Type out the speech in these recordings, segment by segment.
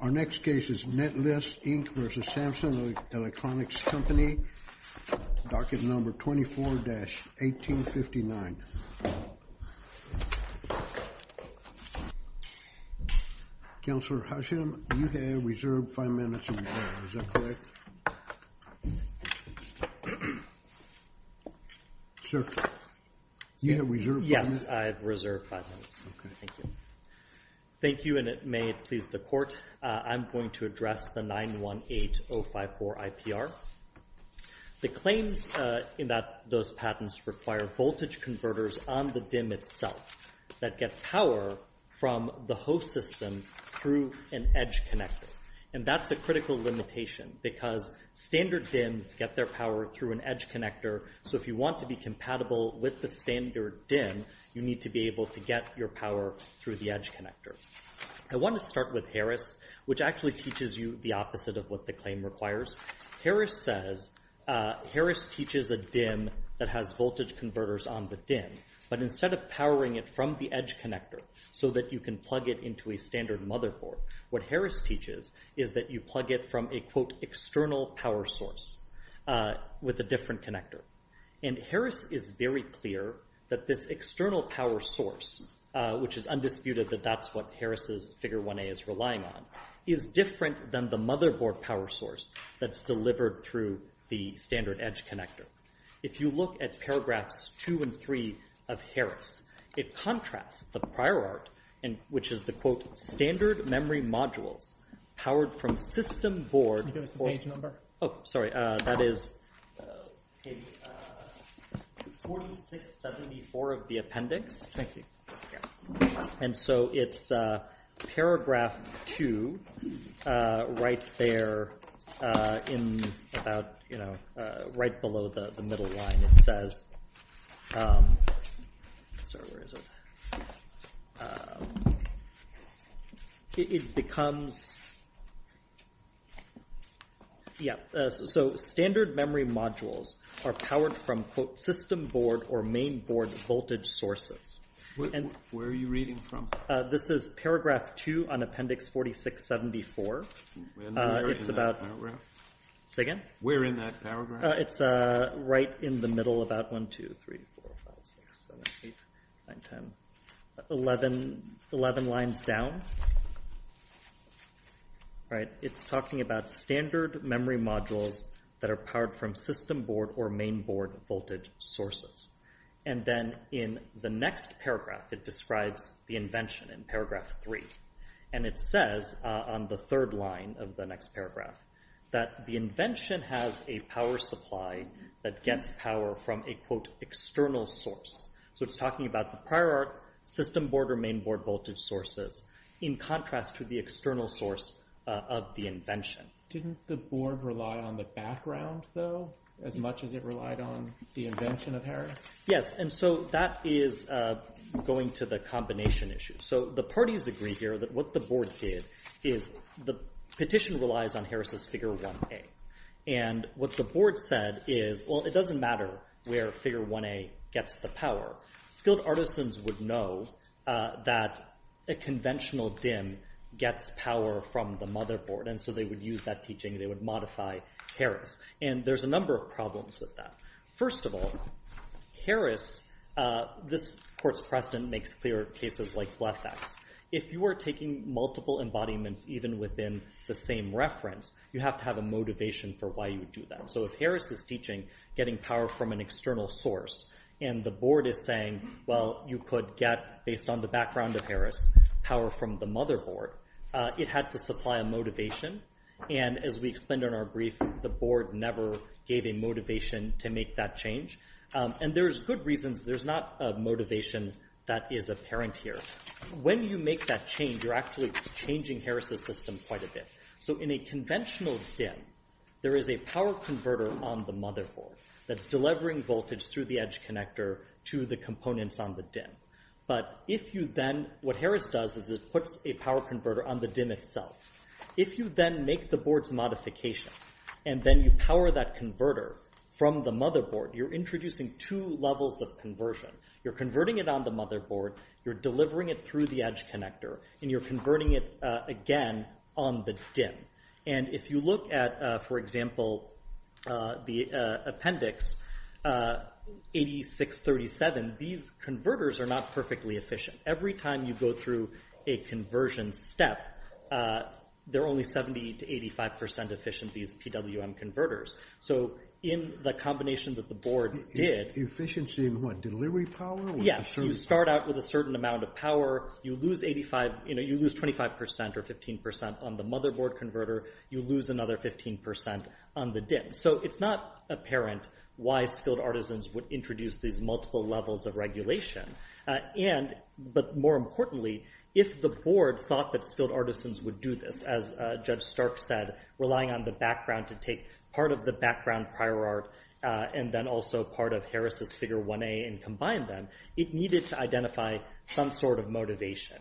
Our next case is Netlist, Inc. v. Samsung Electronics Co., Ltd., docket number 24-1859. Counselor Husham, you have reserved five minutes of your time, is that correct? Sir, you have reserved five minutes? Yes, I have reserved five minutes, thank you. Thank you, and it may please the court, I'm going to address the 918-054 IPR. The claims in those patents require voltage converters on the DIMM itself that get power from the host system through an edge connector, and that's a critical limitation because standard DIMMs get their power through an edge connector, so if you want to be compatible with the standard DIMM, you need to be able to get your power through the edge connector. I want to start with Harris, which actually teaches you the opposite of what the claim requires. Harris says, Harris teaches a DIMM that has voltage converters on the DIMM, but instead of powering it from the edge connector so that you can plug it into a standard motherboard, what Harris teaches is that you plug it from a, quote, external power source with a different connector, and Harris is very clear that this external power source, which is undisputed that that's what Harris's figure 1A is relying on, is different than the motherboard power source that's delivered through the standard edge connector. If you look at paragraphs two and three of Harris, it contrasts the prior art, which is the, quote, standard memory modules powered from system board. Can you give us the page number? Oh, sorry. That is page 4674 of the appendix, and so it's paragraph two right there in about, you know, right below the middle line, it says, sorry, where is it? It becomes, yeah, so standard memory modules are powered from, quote, system board or main board voltage sources. Where are you reading from? This is paragraph two on appendix 4674. It's about, say again? Where in that paragraph? It's right in the middle, about 1, 2, 3, 4, 5, 6, 7, 8, 9, 10, 11 lines down, right? It's talking about standard memory modules that are powered from system board or main board voltage sources, and then in the next paragraph, it describes the invention in paragraph three, and it says on the third line of the next paragraph that the invention has a power supply that gets power from a, quote, external source, so it's talking about the prior art system board or main board voltage sources in contrast to the external source of the Didn't the board rely on the background, though, as much as it relied on the invention of Harris? Yes, and so that is going to the combination issue. So the parties agree here that what the board did is the petition relies on Harris's figure 1A, and what the board said is, well, it doesn't matter where figure 1A gets the power. Skilled artisans would know that a conventional DIM gets power from the motherboard, and so they would use that teaching. They would modify Harris, and there's a number of problems with that. First of all, Harris, this court's precedent makes clear cases like Blefax. If you are taking multiple embodiments even within the same reference, you have to have a motivation for why you would do that, so if Harris is teaching getting power from an external source, and the board is saying, well, you could get, based on the background of Harris, power from the motherboard, it had to supply a motivation, and as we explained in our brief, the board never gave a motivation to make that change, and there's good reasons. There's not a motivation that is apparent here. When you make that change, you're actually changing Harris's system quite a bit. So in a conventional DIM, there is a power converter on the motherboard that's delivering voltage through the edge connector to the components on the DIM, but if you then, what Harris does is it puts a power converter on the DIM itself. If you then make the board's modification, and then you power that converter from the motherboard, you're introducing two levels of conversion. You're converting it on the motherboard, you're delivering it through the edge connector, and you're converting it again on the DIM, and if you look at, for example, the appendix 8637, these converters are not perfectly efficient. Every time you go through a conversion step, they're only 70% to 85% efficient, these PWM converters. So in the combination that the board did... Efficiency in what? Delivery power? Yes. You start out with a certain amount of power, you lose 25% or 15% on the motherboard converter, you lose another 15% on the DIM. So it's not apparent why skilled artisans would introduce these multiple levels of regulation, but more importantly, if the board thought that skilled artisans would do this, as Judge Stark said, relying on the background to take part of the background prior art, and then also part of Harris's figure 1A and combine them, it needed to identify some sort of motivation.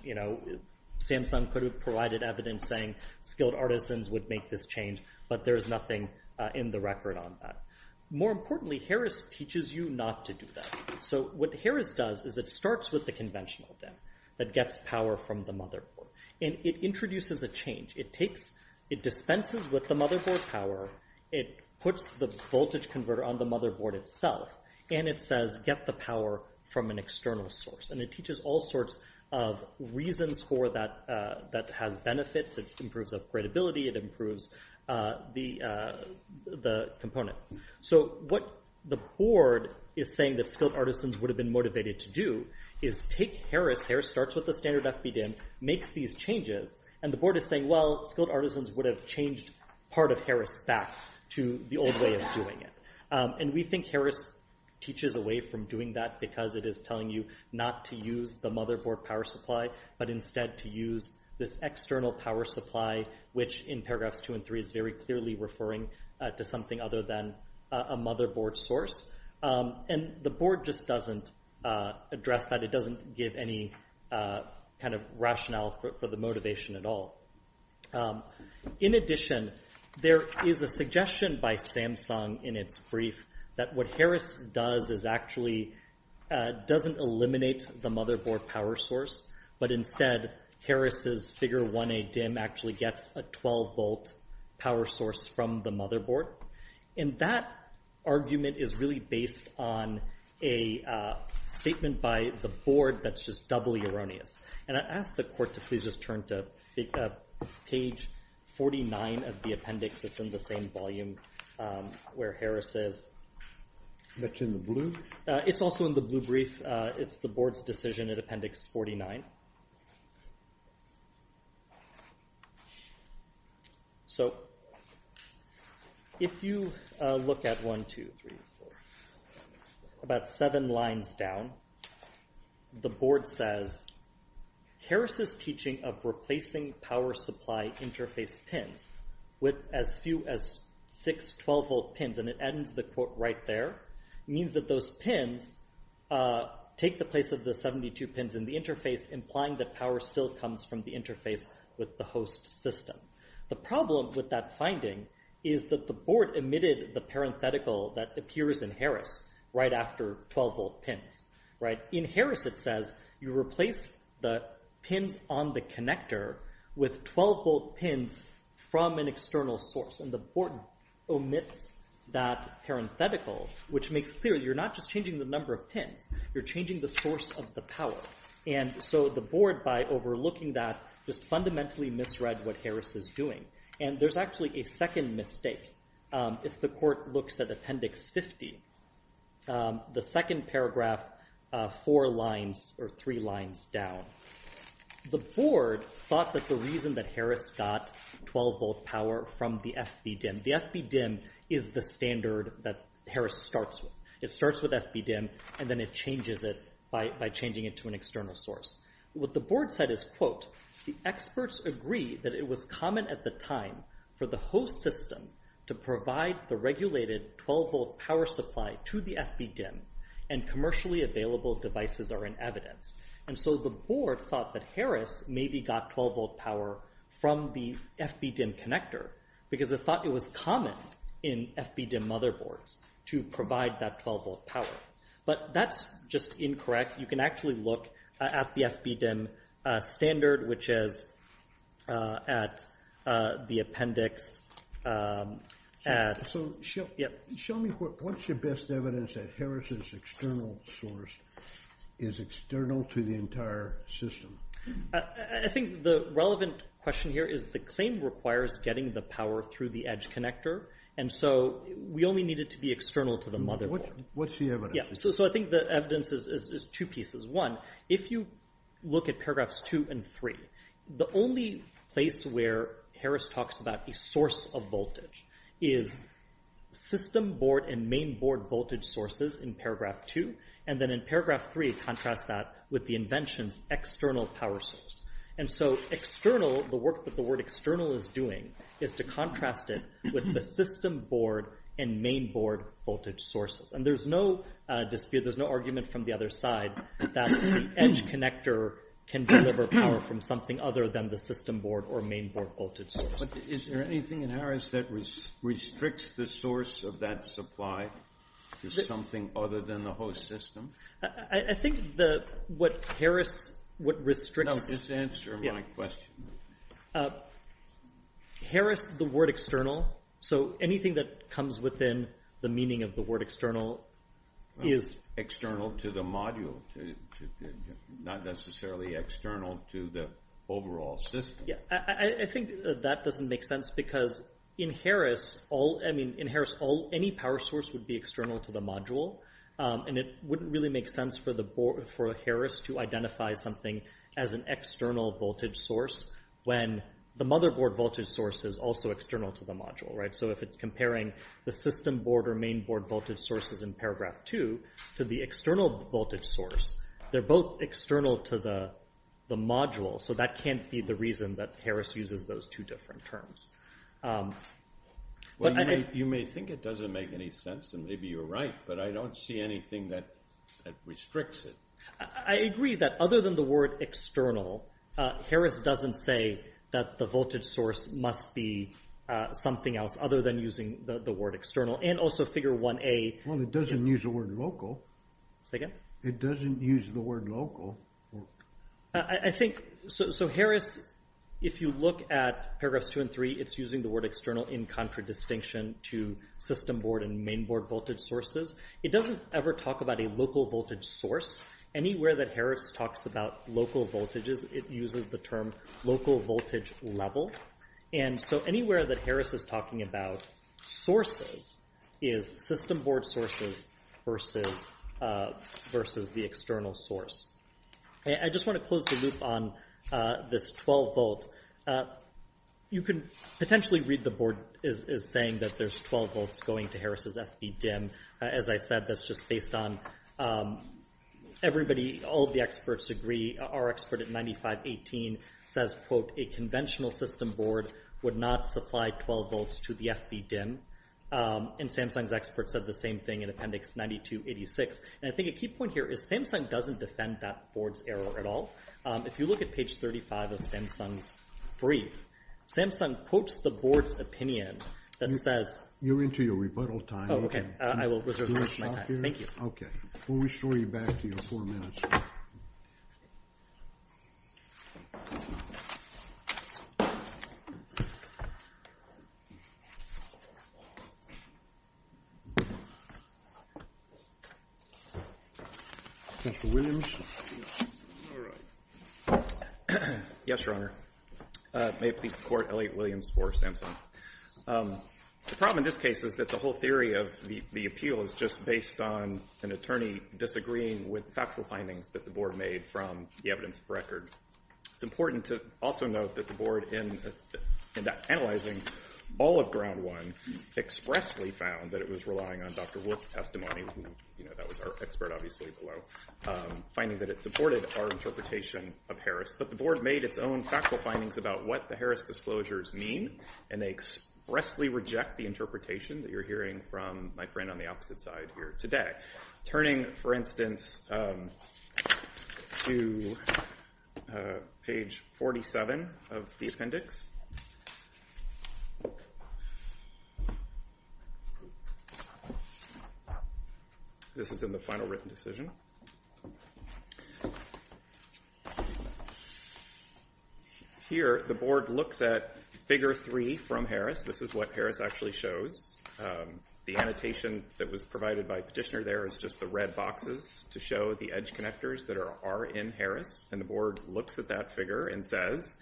Samsung could have provided evidence saying skilled artisans would make this change, but there's nothing in the record on that. More importantly, Harris teaches you not to do that. So what Harris does is it starts with the conventional DIM that gets power from the motherboard, and it introduces a change. It dispenses with the motherboard power, it puts the voltage converter on the motherboard itself, and it says, get the power from an external source, and it teaches all sorts of reasons for that, that has benefits, it improves upgradability, it improves the component. So what the board is saying that skilled artisans would have been motivated to do is take Harris, Harris starts with the standard FBDIM, makes these changes, and the board is saying, well, skilled artisans would have changed part of Harris back to the old way of doing it. And we think Harris teaches away from doing that because it is telling you not to use the motherboard power supply, but instead to use this external power supply, which in paragraphs 2 and 3 is very clearly referring to something other than a motherboard source. And the board just doesn't address that, it doesn't give any kind of rationale for the motivation at all. In addition, there is a suggestion by Samsung in its brief that what Harris does is actually doesn't eliminate the motherboard power source, but instead Harris's figure 1A DIM actually gets a 12-volt power source from the motherboard, and that argument is really based on a statement by the board that's just doubly erroneous. And I ask the court to please just turn to page 49 of the appendix that's in the same volume where Harris is. That's in the blue? It's also in the blue brief. It's the board's decision in appendix 49. So if you look at 1, 2, 3, 4, about seven lines down, the board says, Harris's teaching of replacing power supply interface pins with as few as six 12-volt pins, and it ends the quote right there, means that those pins take the place of the 72 pins in the interface implying that power still comes from the interface with the host system. The problem with that finding is that the board omitted the parenthetical that appears in Harris right after 12-volt pins, right? In Harris it says you replace the pins on the connector with 12-volt pins from an external source, and the board omits that parenthetical, which makes clear you're not just changing the number of pins, you're changing the source of the power. And so the board, by overlooking that, just fundamentally misread what Harris is doing. And there's actually a second mistake. If the court looks at appendix 50, the second paragraph, four lines or three lines down, the board thought that the reason that Harris got 12-volt power from the FB-DIMM, the FB-DIMM is the standard that Harris starts with. It starts with FB-DIMM, and then it changes it by changing it to an external source. What the board said is, quote, the experts agree that it was common at the time for the host system to provide the regulated 12-volt power supply to the FB-DIMM, and commercially available devices are in evidence. And so the board thought that Harris maybe got 12-volt power from the FB-DIMM connector, because it thought it was common in FB-DIMM motherboards to provide that 12-volt power. But that's just incorrect. You can actually look at the FB-DIMM standard, which is at the appendix at... So show me what's your best evidence that Harris's external source is external to the entire system? I think the relevant question here is the claim requires getting the power through the edge connector, and so we only need it to be external to the motherboard. What's the evidence? So I think the evidence is two pieces. One, if you look at paragraphs two and three, the only place where Harris talks about a source of voltage is system board and main board voltage sources in paragraph two, and then in paragraph three, contrast that with the invention's external power source. And so external, the work that the word external is doing, is to contrast it with the system board and main board voltage sources. And there's no dispute, there's no argument from the other side that the edge connector can deliver power from something other than the system board or main board voltage source. But is there anything in Harris that restricts the source of that supply to something other than the host system? I think what Harris, what restricts... No, just answer my question. Harris, the word external, so anything that comes within the meaning of the word external is... External to the module, not necessarily external to the overall system. I think that doesn't make sense because in Harris, any power source would be external to the module, and it wouldn't really make sense for Harris to identify something as an external voltage source when the motherboard voltage source is also external to the module. So if it's comparing the system board or main board voltage sources in paragraph two to the external voltage source, they're both external to the module. So that can't be the reason that Harris uses those two different terms. You may think it doesn't make any sense, and maybe you're right, but I don't see anything that restricts it. I agree that other than the word external, Harris doesn't say that the voltage source must be something else other than using the word external. And also figure 1A... Well, it doesn't use the word local. Say again? It doesn't use the word local. I think... So Harris, if you look at paragraphs two and three, it's using the word external in contradistinction to system board and main board voltage sources. It doesn't ever talk about a local voltage source. Anywhere that Harris talks about local voltages, it uses the term local voltage level. And so anywhere that Harris is talking about sources is system board sources versus the external source. I just want to close the loop on this 12 volt. You can potentially read the board is saying that there's 12 volts going to Harris's FB DIMM. As I said, that's just based on everybody, all of the experts agree. Our expert at 9518 says, quote, a conventional system board would not supply 12 volts to the FB DIMM. And Samsung's experts said the same thing in appendix 9286. And I think a key point here is Samsung doesn't defend that board's error at all. If you look at page 35 of Samsung's brief, Samsung quotes the board's opinion that says... You're into your rebuttal time. Oh, okay. I will reserve my time. Thank you. Okay. We'll restore you back to your four minutes. Yes, Your Honor. May it please the court, Elliot Williams for Samsung. The problem in this case is that the whole theory of the appeal is just based on an attorney disagreeing with factual findings that the board made from the evidence of record. It's important to also note that the board, in analyzing all of ground one, expressly found that it was relying on Dr. Wolf's testimony, who, you know, that was our expert, obviously, below. Finding that it supported our interpretation of Harris, but the board made its own factual findings about what the Harris disclosures mean, and they expressly reject the interpretation that you're hearing from my friend on the opposite side here today. Turning, for instance, to page 47 of the appendix. This is in the final written decision. Here the board looks at figure three from Harris. This is what Harris actually shows. The annotation that was provided by Petitioner there is just the red boxes to show the edge connectors that are in Harris, and the board looks at that figure and says,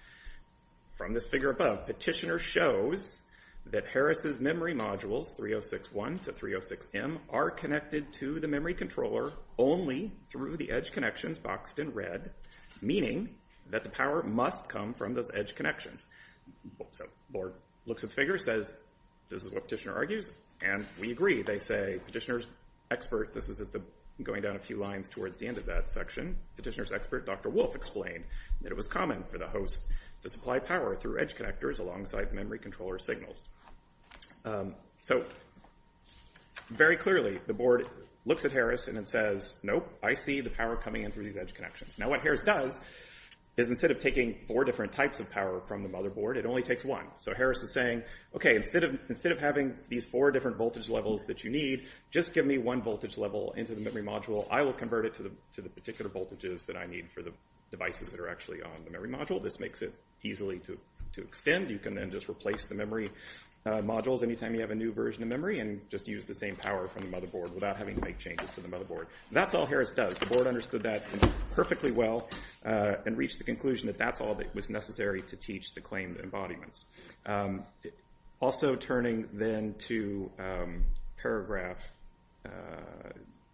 from this figure above, Petitioner shows that Harris's memory modules, 306-1 to 306-M, are connected to the memory controller only through the edge connections boxed in red, meaning that the power must come from those edge connections. The board looks at the figure and says, this is what Petitioner argues, and we agree. They say, Petitioner's expert, this is going down a few lines towards the end of that section, Petitioner's expert, Dr. Wolf, explained that it was common for the host to supply power through edge connectors alongside memory controller signals. Very clearly, the board looks at Harris and says, nope, I see the power coming in through these edge connections. Now what Harris does is instead of taking four different types of power from the motherboard, it only takes one. So Harris is saying, instead of having these four different voltage levels that you need, just give me one voltage level into the memory module, I will convert it to the particular voltages that I need for the devices that are actually on the memory module. This makes it easily to extend. You can then just replace the memory modules anytime you have a new version of memory and just use the same power from the motherboard without having to make changes to the motherboard. That's all Harris does. The board understood that perfectly well and reached the conclusion that that's all that was necessary to teach the claimed embodiments. Also turning then to paragraph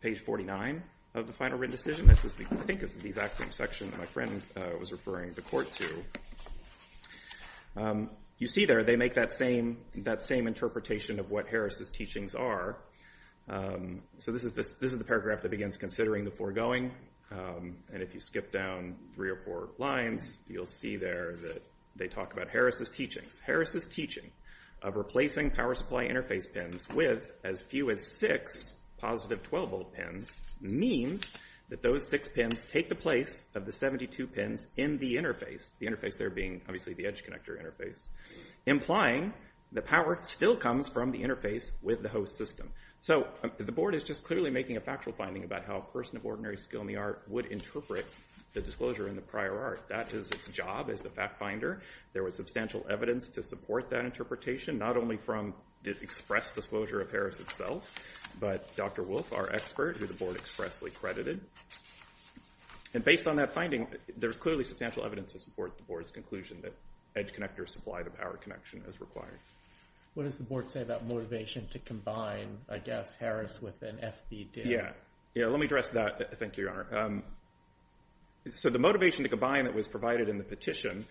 page 49 of the final written decision, this is the exact same section that my friend was referring the court to. You see there, they make that same interpretation of what Harris's teachings are. So this is the paragraph that begins considering the foregoing. And if you skip down three or four lines, you'll see there that they talk about Harris's Harris's teaching of replacing power supply interface pins with as few as six positive 12-volt pins means that those six pins take the place of the 72 pins in the interface, the interface there being obviously the edge connector interface, implying the power still comes from the interface with the host system. So the board is just clearly making a factual finding about how a person of ordinary skill in the art would interpret the disclosure in the prior art. That is its job as the fact finder. There was substantial evidence to support that interpretation, not only from the express disclosure of Harris itself, but Dr. Wolfe, our expert, who the board expressly credited. And based on that finding, there's clearly substantial evidence to support the board's conclusion that edge connectors supply the power connection as required. What does the board say about motivation to combine, I guess, Harris with an FBDIM? Yeah. Yeah, let me address that. Thank you, Your Honor. So the motivation to combine that was provided in the petition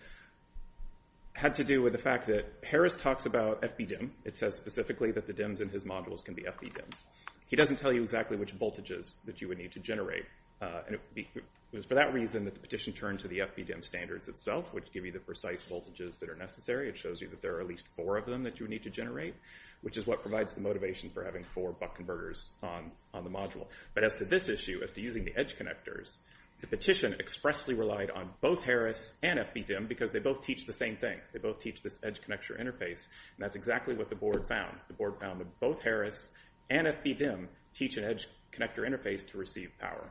had to do with the fact that Harris talks about FBDIM. It says specifically that the DIMs in his modules can be FBDIMs. He doesn't tell you exactly which voltages that you would need to generate. And it was for that reason that the petition turned to the FBDIM standards itself, which give you the precise voltages that are necessary. It shows you that there are at least four of them that you would need to generate, which is what provides the motivation for having four buck converters on the module. But as to this issue, as to using the edge connectors, the petition expressly relied on both Harris and FBDIM because they both teach the same thing. They both teach this edge connector interface. And that's exactly what the board found. The board found that both Harris and FBDIM teach an edge connector interface to receive power.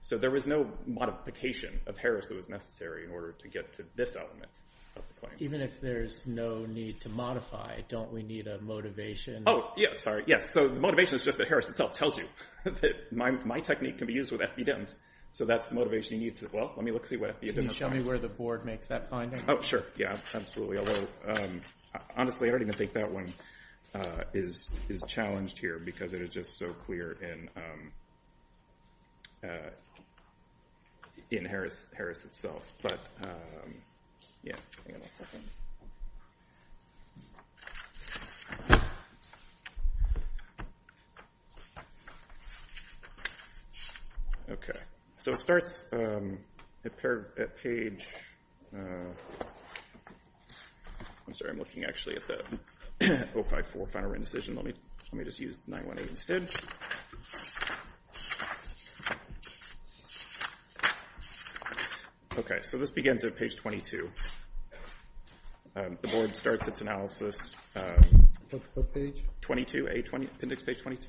So there was no modification of Harris that was necessary in order to get to this element of the claim. Even if there's no need to modify, don't we need a motivation? Oh, yeah. Sorry. Yes. So the motivation is just that Harris itself tells you that my technique can be used with FBDIMs. So that's the motivation he needs. Well, let me look and see what FBDIMs are. Can you show me where the board makes that finding? Oh, sure. Yeah. Absolutely. Although, honestly, I don't even think that one is challenged here because it is just so clear in Harris itself. But, yeah. Hang on a second. Okay. So it starts at page... I'm sorry. I'm looking, actually, at the 054 Final Written Decision. Let me just use 918 instead. Okay. So this begins at page 22. The board starts its analysis... What page? 22A, appendix page 22.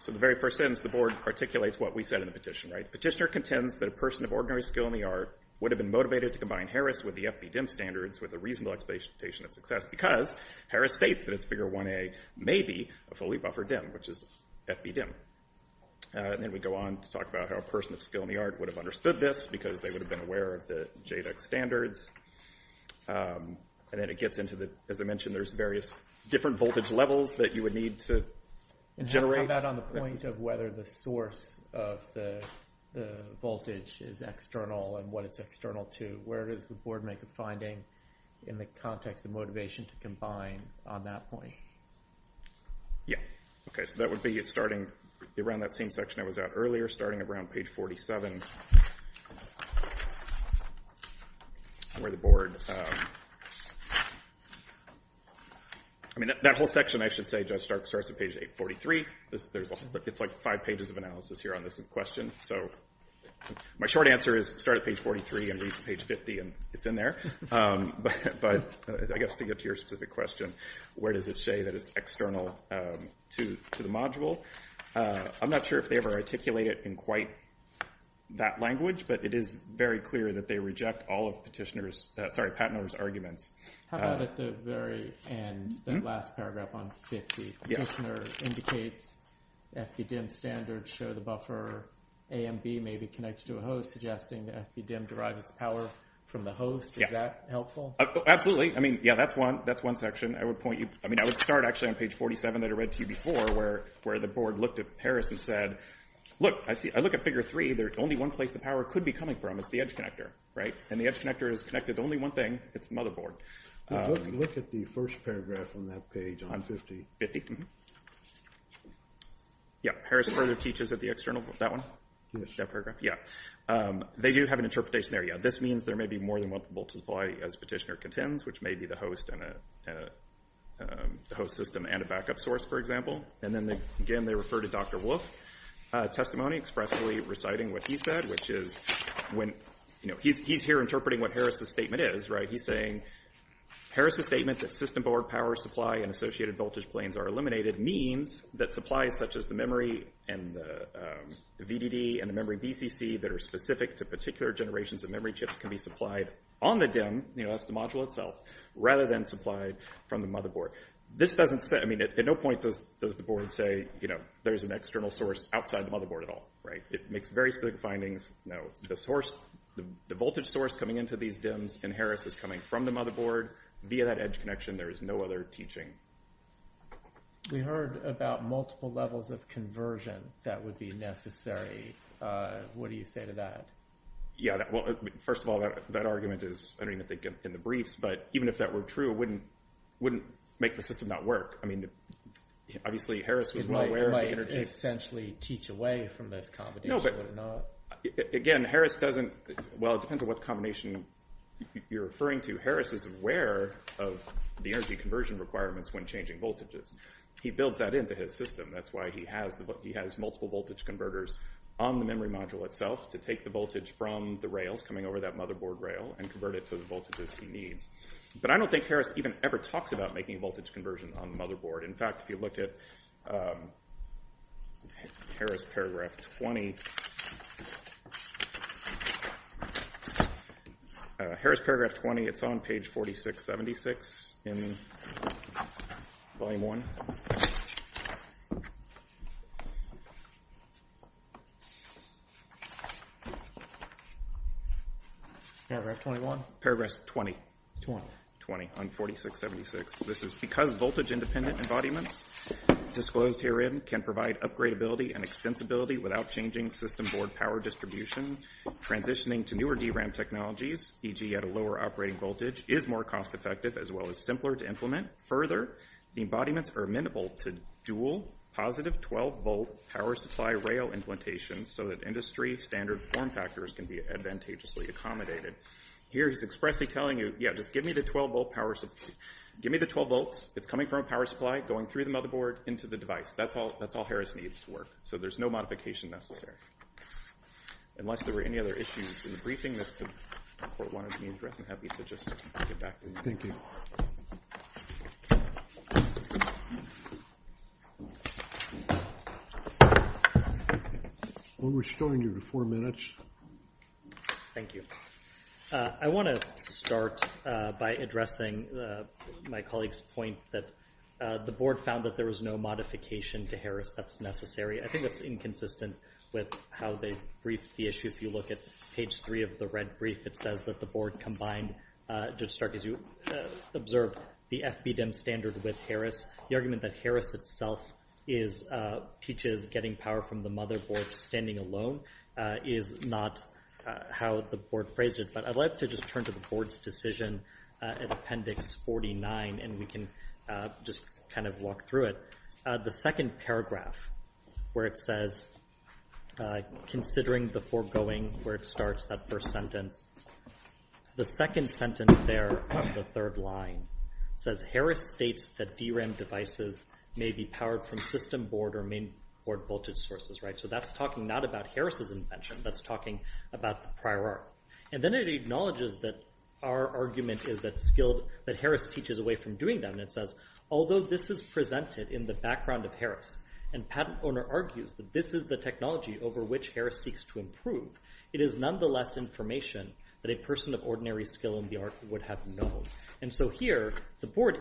So the very first sentence, the board articulates what we said in the petition, right? Petitioner contends that a person of ordinary skill in the art would have been motivated to combine Harris with the FBDIM standards with a reasonable expectation of success because Harris states that its figure 1A may be a fully buffered DIM, which is FBDIM. And then we go on to talk about how a person of skill in the art would have understood this because they would have been aware of the JEDEC standards. And then it gets into the... As I mentioned, there's various different voltage levels that you would need to generate. And how about on the point of whether the source of the voltage is external and what it's external to? Where does the board make a finding in the context of motivation to combine on that point? Yeah. Okay. So that would be starting around that same section I was at earlier, starting around page 47. Where the board... I mean, that whole section, I should say, Judge Stark, starts at page 843. It's like five pages of analysis here on this question. So my short answer is start at page 43 and read to page 50, and it's in there. But I guess to get to your specific question, where does it say that it's external to the module? I'm not sure if they ever articulate it in quite that language, but it is very clear that they reject all of Petitioner's... Sorry, Pattener's arguments. How about at the very end, that last paragraph on 50? Petitioner indicates FD-DIMM standards show the buffer A and B may be connected to a host, suggesting that FD-DIMM derives its power from the host. Is that helpful? Absolutely. I mean, yeah, that's one section. I would point you... I mean, I would start, actually, on page 47 that I read to you before, where the board looked at Parris and said, look, I look at figure 3. There's only one place the power could be coming from. It's the edge connector, right? And the edge connector is connected to only one thing. It's the motherboard. Look at the first paragraph on that page on 50. Yeah, Parris further teaches at the external... That one? That paragraph, yeah. They do have an interpretation there, yeah. This means there may be more than one multiple supply as Petitioner contends, which may be the host system and a backup source, for example. And then, again, they refer to Dr. Wolf's testimony expressly reciting what he said, which is when... He's here interpreting what Harris' statement is, right? He's saying, Harris' statement that system board power supply and associated voltage planes are eliminated means that supplies such as the memory and the VDD and the memory BCC that are specific to particular generations of memory chips can be supplied on the DIMM. That's the module itself, rather than supplied from the motherboard. This doesn't say... I mean, at no point does the board say there's an external source outside the motherboard at all, right? It makes very specific findings. No. The voltage source coming into these DIMMs in Harris is coming from the motherboard. Via that edge connection, there is no other teaching. We heard about multiple levels of conversion that would be necessary. What do you say to that? Yeah, well, first of all, that argument is, I don't even think, in the briefs. But even if that were true, it wouldn't make the system not work. I mean, obviously, Harris was well aware of the energy... It might essentially teach away from this combination, would it not? Again, Harris doesn't... Well, it depends on what combination you're referring to. Harris is aware of the energy conversion requirements when changing voltages. He builds that into his system. That's why he has multiple voltage converters on the memory module itself to take the voltage from the rails coming over that motherboard rail and convert it to the voltages he needs. But I don't think Harris even ever talks about making voltage conversion on the motherboard. In fact, if you look at Harris Paragraph 20... Harris Paragraph 20, it's on page 4676 in Volume 1. Paragraph 21? Paragraph 20. 20. 20 on 4676. This is because voltage-independent embodiments, disclosed herein, can provide upgradability and extensibility without changing system board power distribution. Transitioning to newer DRAM technologies, e.g. at a lower operating voltage, is more cost-effective as well as simpler to implement. Further, the embodiments are amenable to dual positive 12-volt power supply rail implantations so that industry-standard form factors can be advantageously accommodated. Here he's expressly telling you, yeah, just give me the 12-volt power supply. Give me the 12 volts. It's coming from a power supply, going through the motherboard, into the device. That's all Harris needs to work. So there's no modification necessary. Unless there were any other issues in the briefing, this could report one of these. I'm happy to just get back to you. Thank you. We're still in your four minutes. Thank you. I want to start by addressing my colleague's point that the board found that there was no modification to Harris that's necessary. I think that's inconsistent with how they briefed the issue. If you look at page 3 of the red brief, it says that the board combined, Judge Stark, as you observed, the FBDIM standard with Harris. The argument that Harris itself teaches getting power from the motherboard, standing alone, is not how the board phrased it. But I'd like to just turn to the board's decision in Appendix 49, and we can just kind of walk through it. The second paragraph where it says, considering the foregoing where it starts, that first sentence, the second sentence there of the third line says, Harris states that DRAM devices may be powered from system board or main board voltage sources. So that's talking not about Harris's invention. That's talking about the prior art. And then it acknowledges that our argument is that Harris teaches away from doing that. And it says, although this is presented in the background of Harris, and patent owner argues that this is the technology over which Harris seeks to improve, it is nonetheless information that a person of ordinary skill in the art would have known. And so here, the board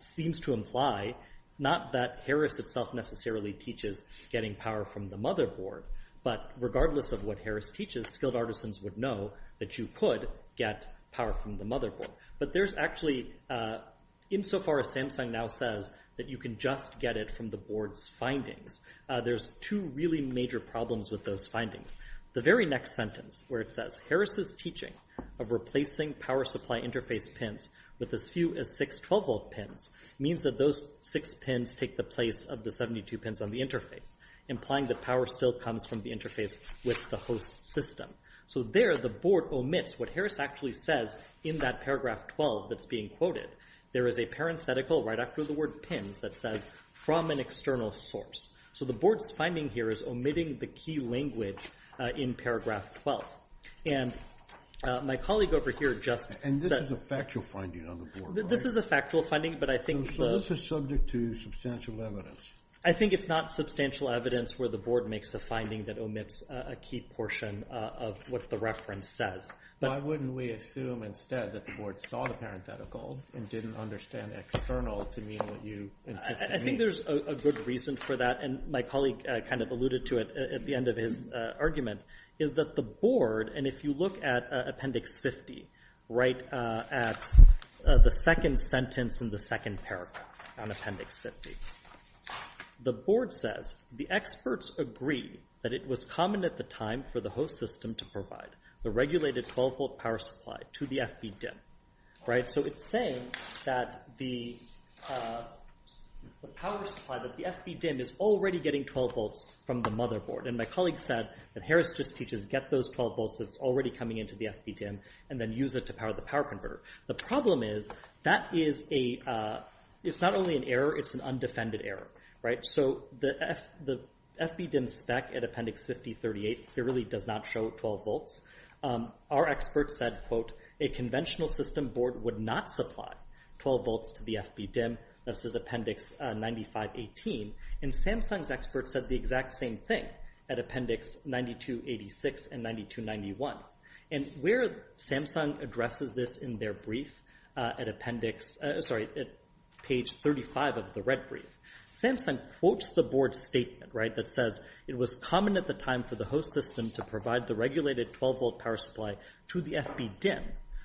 seems to imply, not that Harris itself necessarily teaches getting power from the motherboard, but regardless of what Harris teaches, skilled artisans would know that you could get power from the motherboard. But there's actually, insofar as Samsung now says, that you can just get it from the board's findings. There's two really major problems with those findings. The very next sentence where it says, Harris's teaching of replacing power supply interface pins with as few as six 12-volt pins means that those six pins take the place of the 72 pins on the interface, implying that power still comes from the interface with the host system. So there, the board omits what Harris actually says in that paragraph 12 that's being quoted. There is a parenthetical right after the word pins that says, from an external source. So the board's finding here is omitting the key language in paragraph 12. And my colleague over here just said... And this is a factual finding on the board, right? This is a factual finding, but I think... So this is subject to substantial evidence. I think it's not substantial evidence where the board makes a finding that omits a key portion of what the reference says. Why wouldn't we assume instead that the board saw the parenthetical and didn't understand external to mean what you insist it means? I think there's a good reason for that, and my colleague kind of alluded to it at the end of his argument, is that the board, and if you look at appendix 50, at the second sentence in the second paragraph on appendix 50, the board says, the experts agree that it was common at the time for the host system to provide the regulated 12-volt power supply to the FB DIMM. So it's saying that the power supply, that the FB DIMM is already getting 12 volts from the motherboard. And my colleague said that Harris just teaches, get those 12 volts that's already coming into the FB DIMM, and then use it to power the power converter. The problem is, that is a, it's not only an error, it's an undefended error. So the FB DIMM spec at appendix 5038 clearly does not show 12 volts. Our experts said, quote, a conventional system board would not supply 12 volts to the FB DIMM, this is appendix 9518. And Samsung's experts said the exact same thing at appendix 9286 and 9291. And where Samsung addresses this in their brief at appendix, sorry, at page 35 of the red brief, Samsung quotes the board's statement, right, that says, it was common at the time for the host system to provide the regulated 12-volt power supply to the FB DIMM.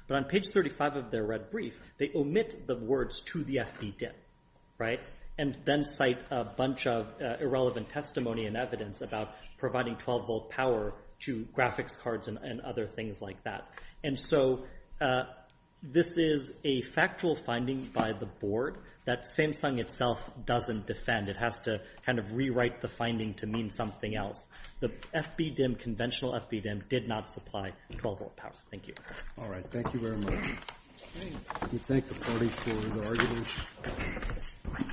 But on page 35 of their red brief, they omit the words to the FB DIMM, right, and then cite a bunch of irrelevant testimony and evidence about providing 12-volt power to graphics cards and other things like that. And so this is a factual finding by the board that Samsung itself doesn't defend. It has to kind of rewrite the finding to mean something else. The FB DIMM, conventional FB DIMM, did not supply 12-volt power. Thank you. All right, thank you very much. Thank the party for the argument.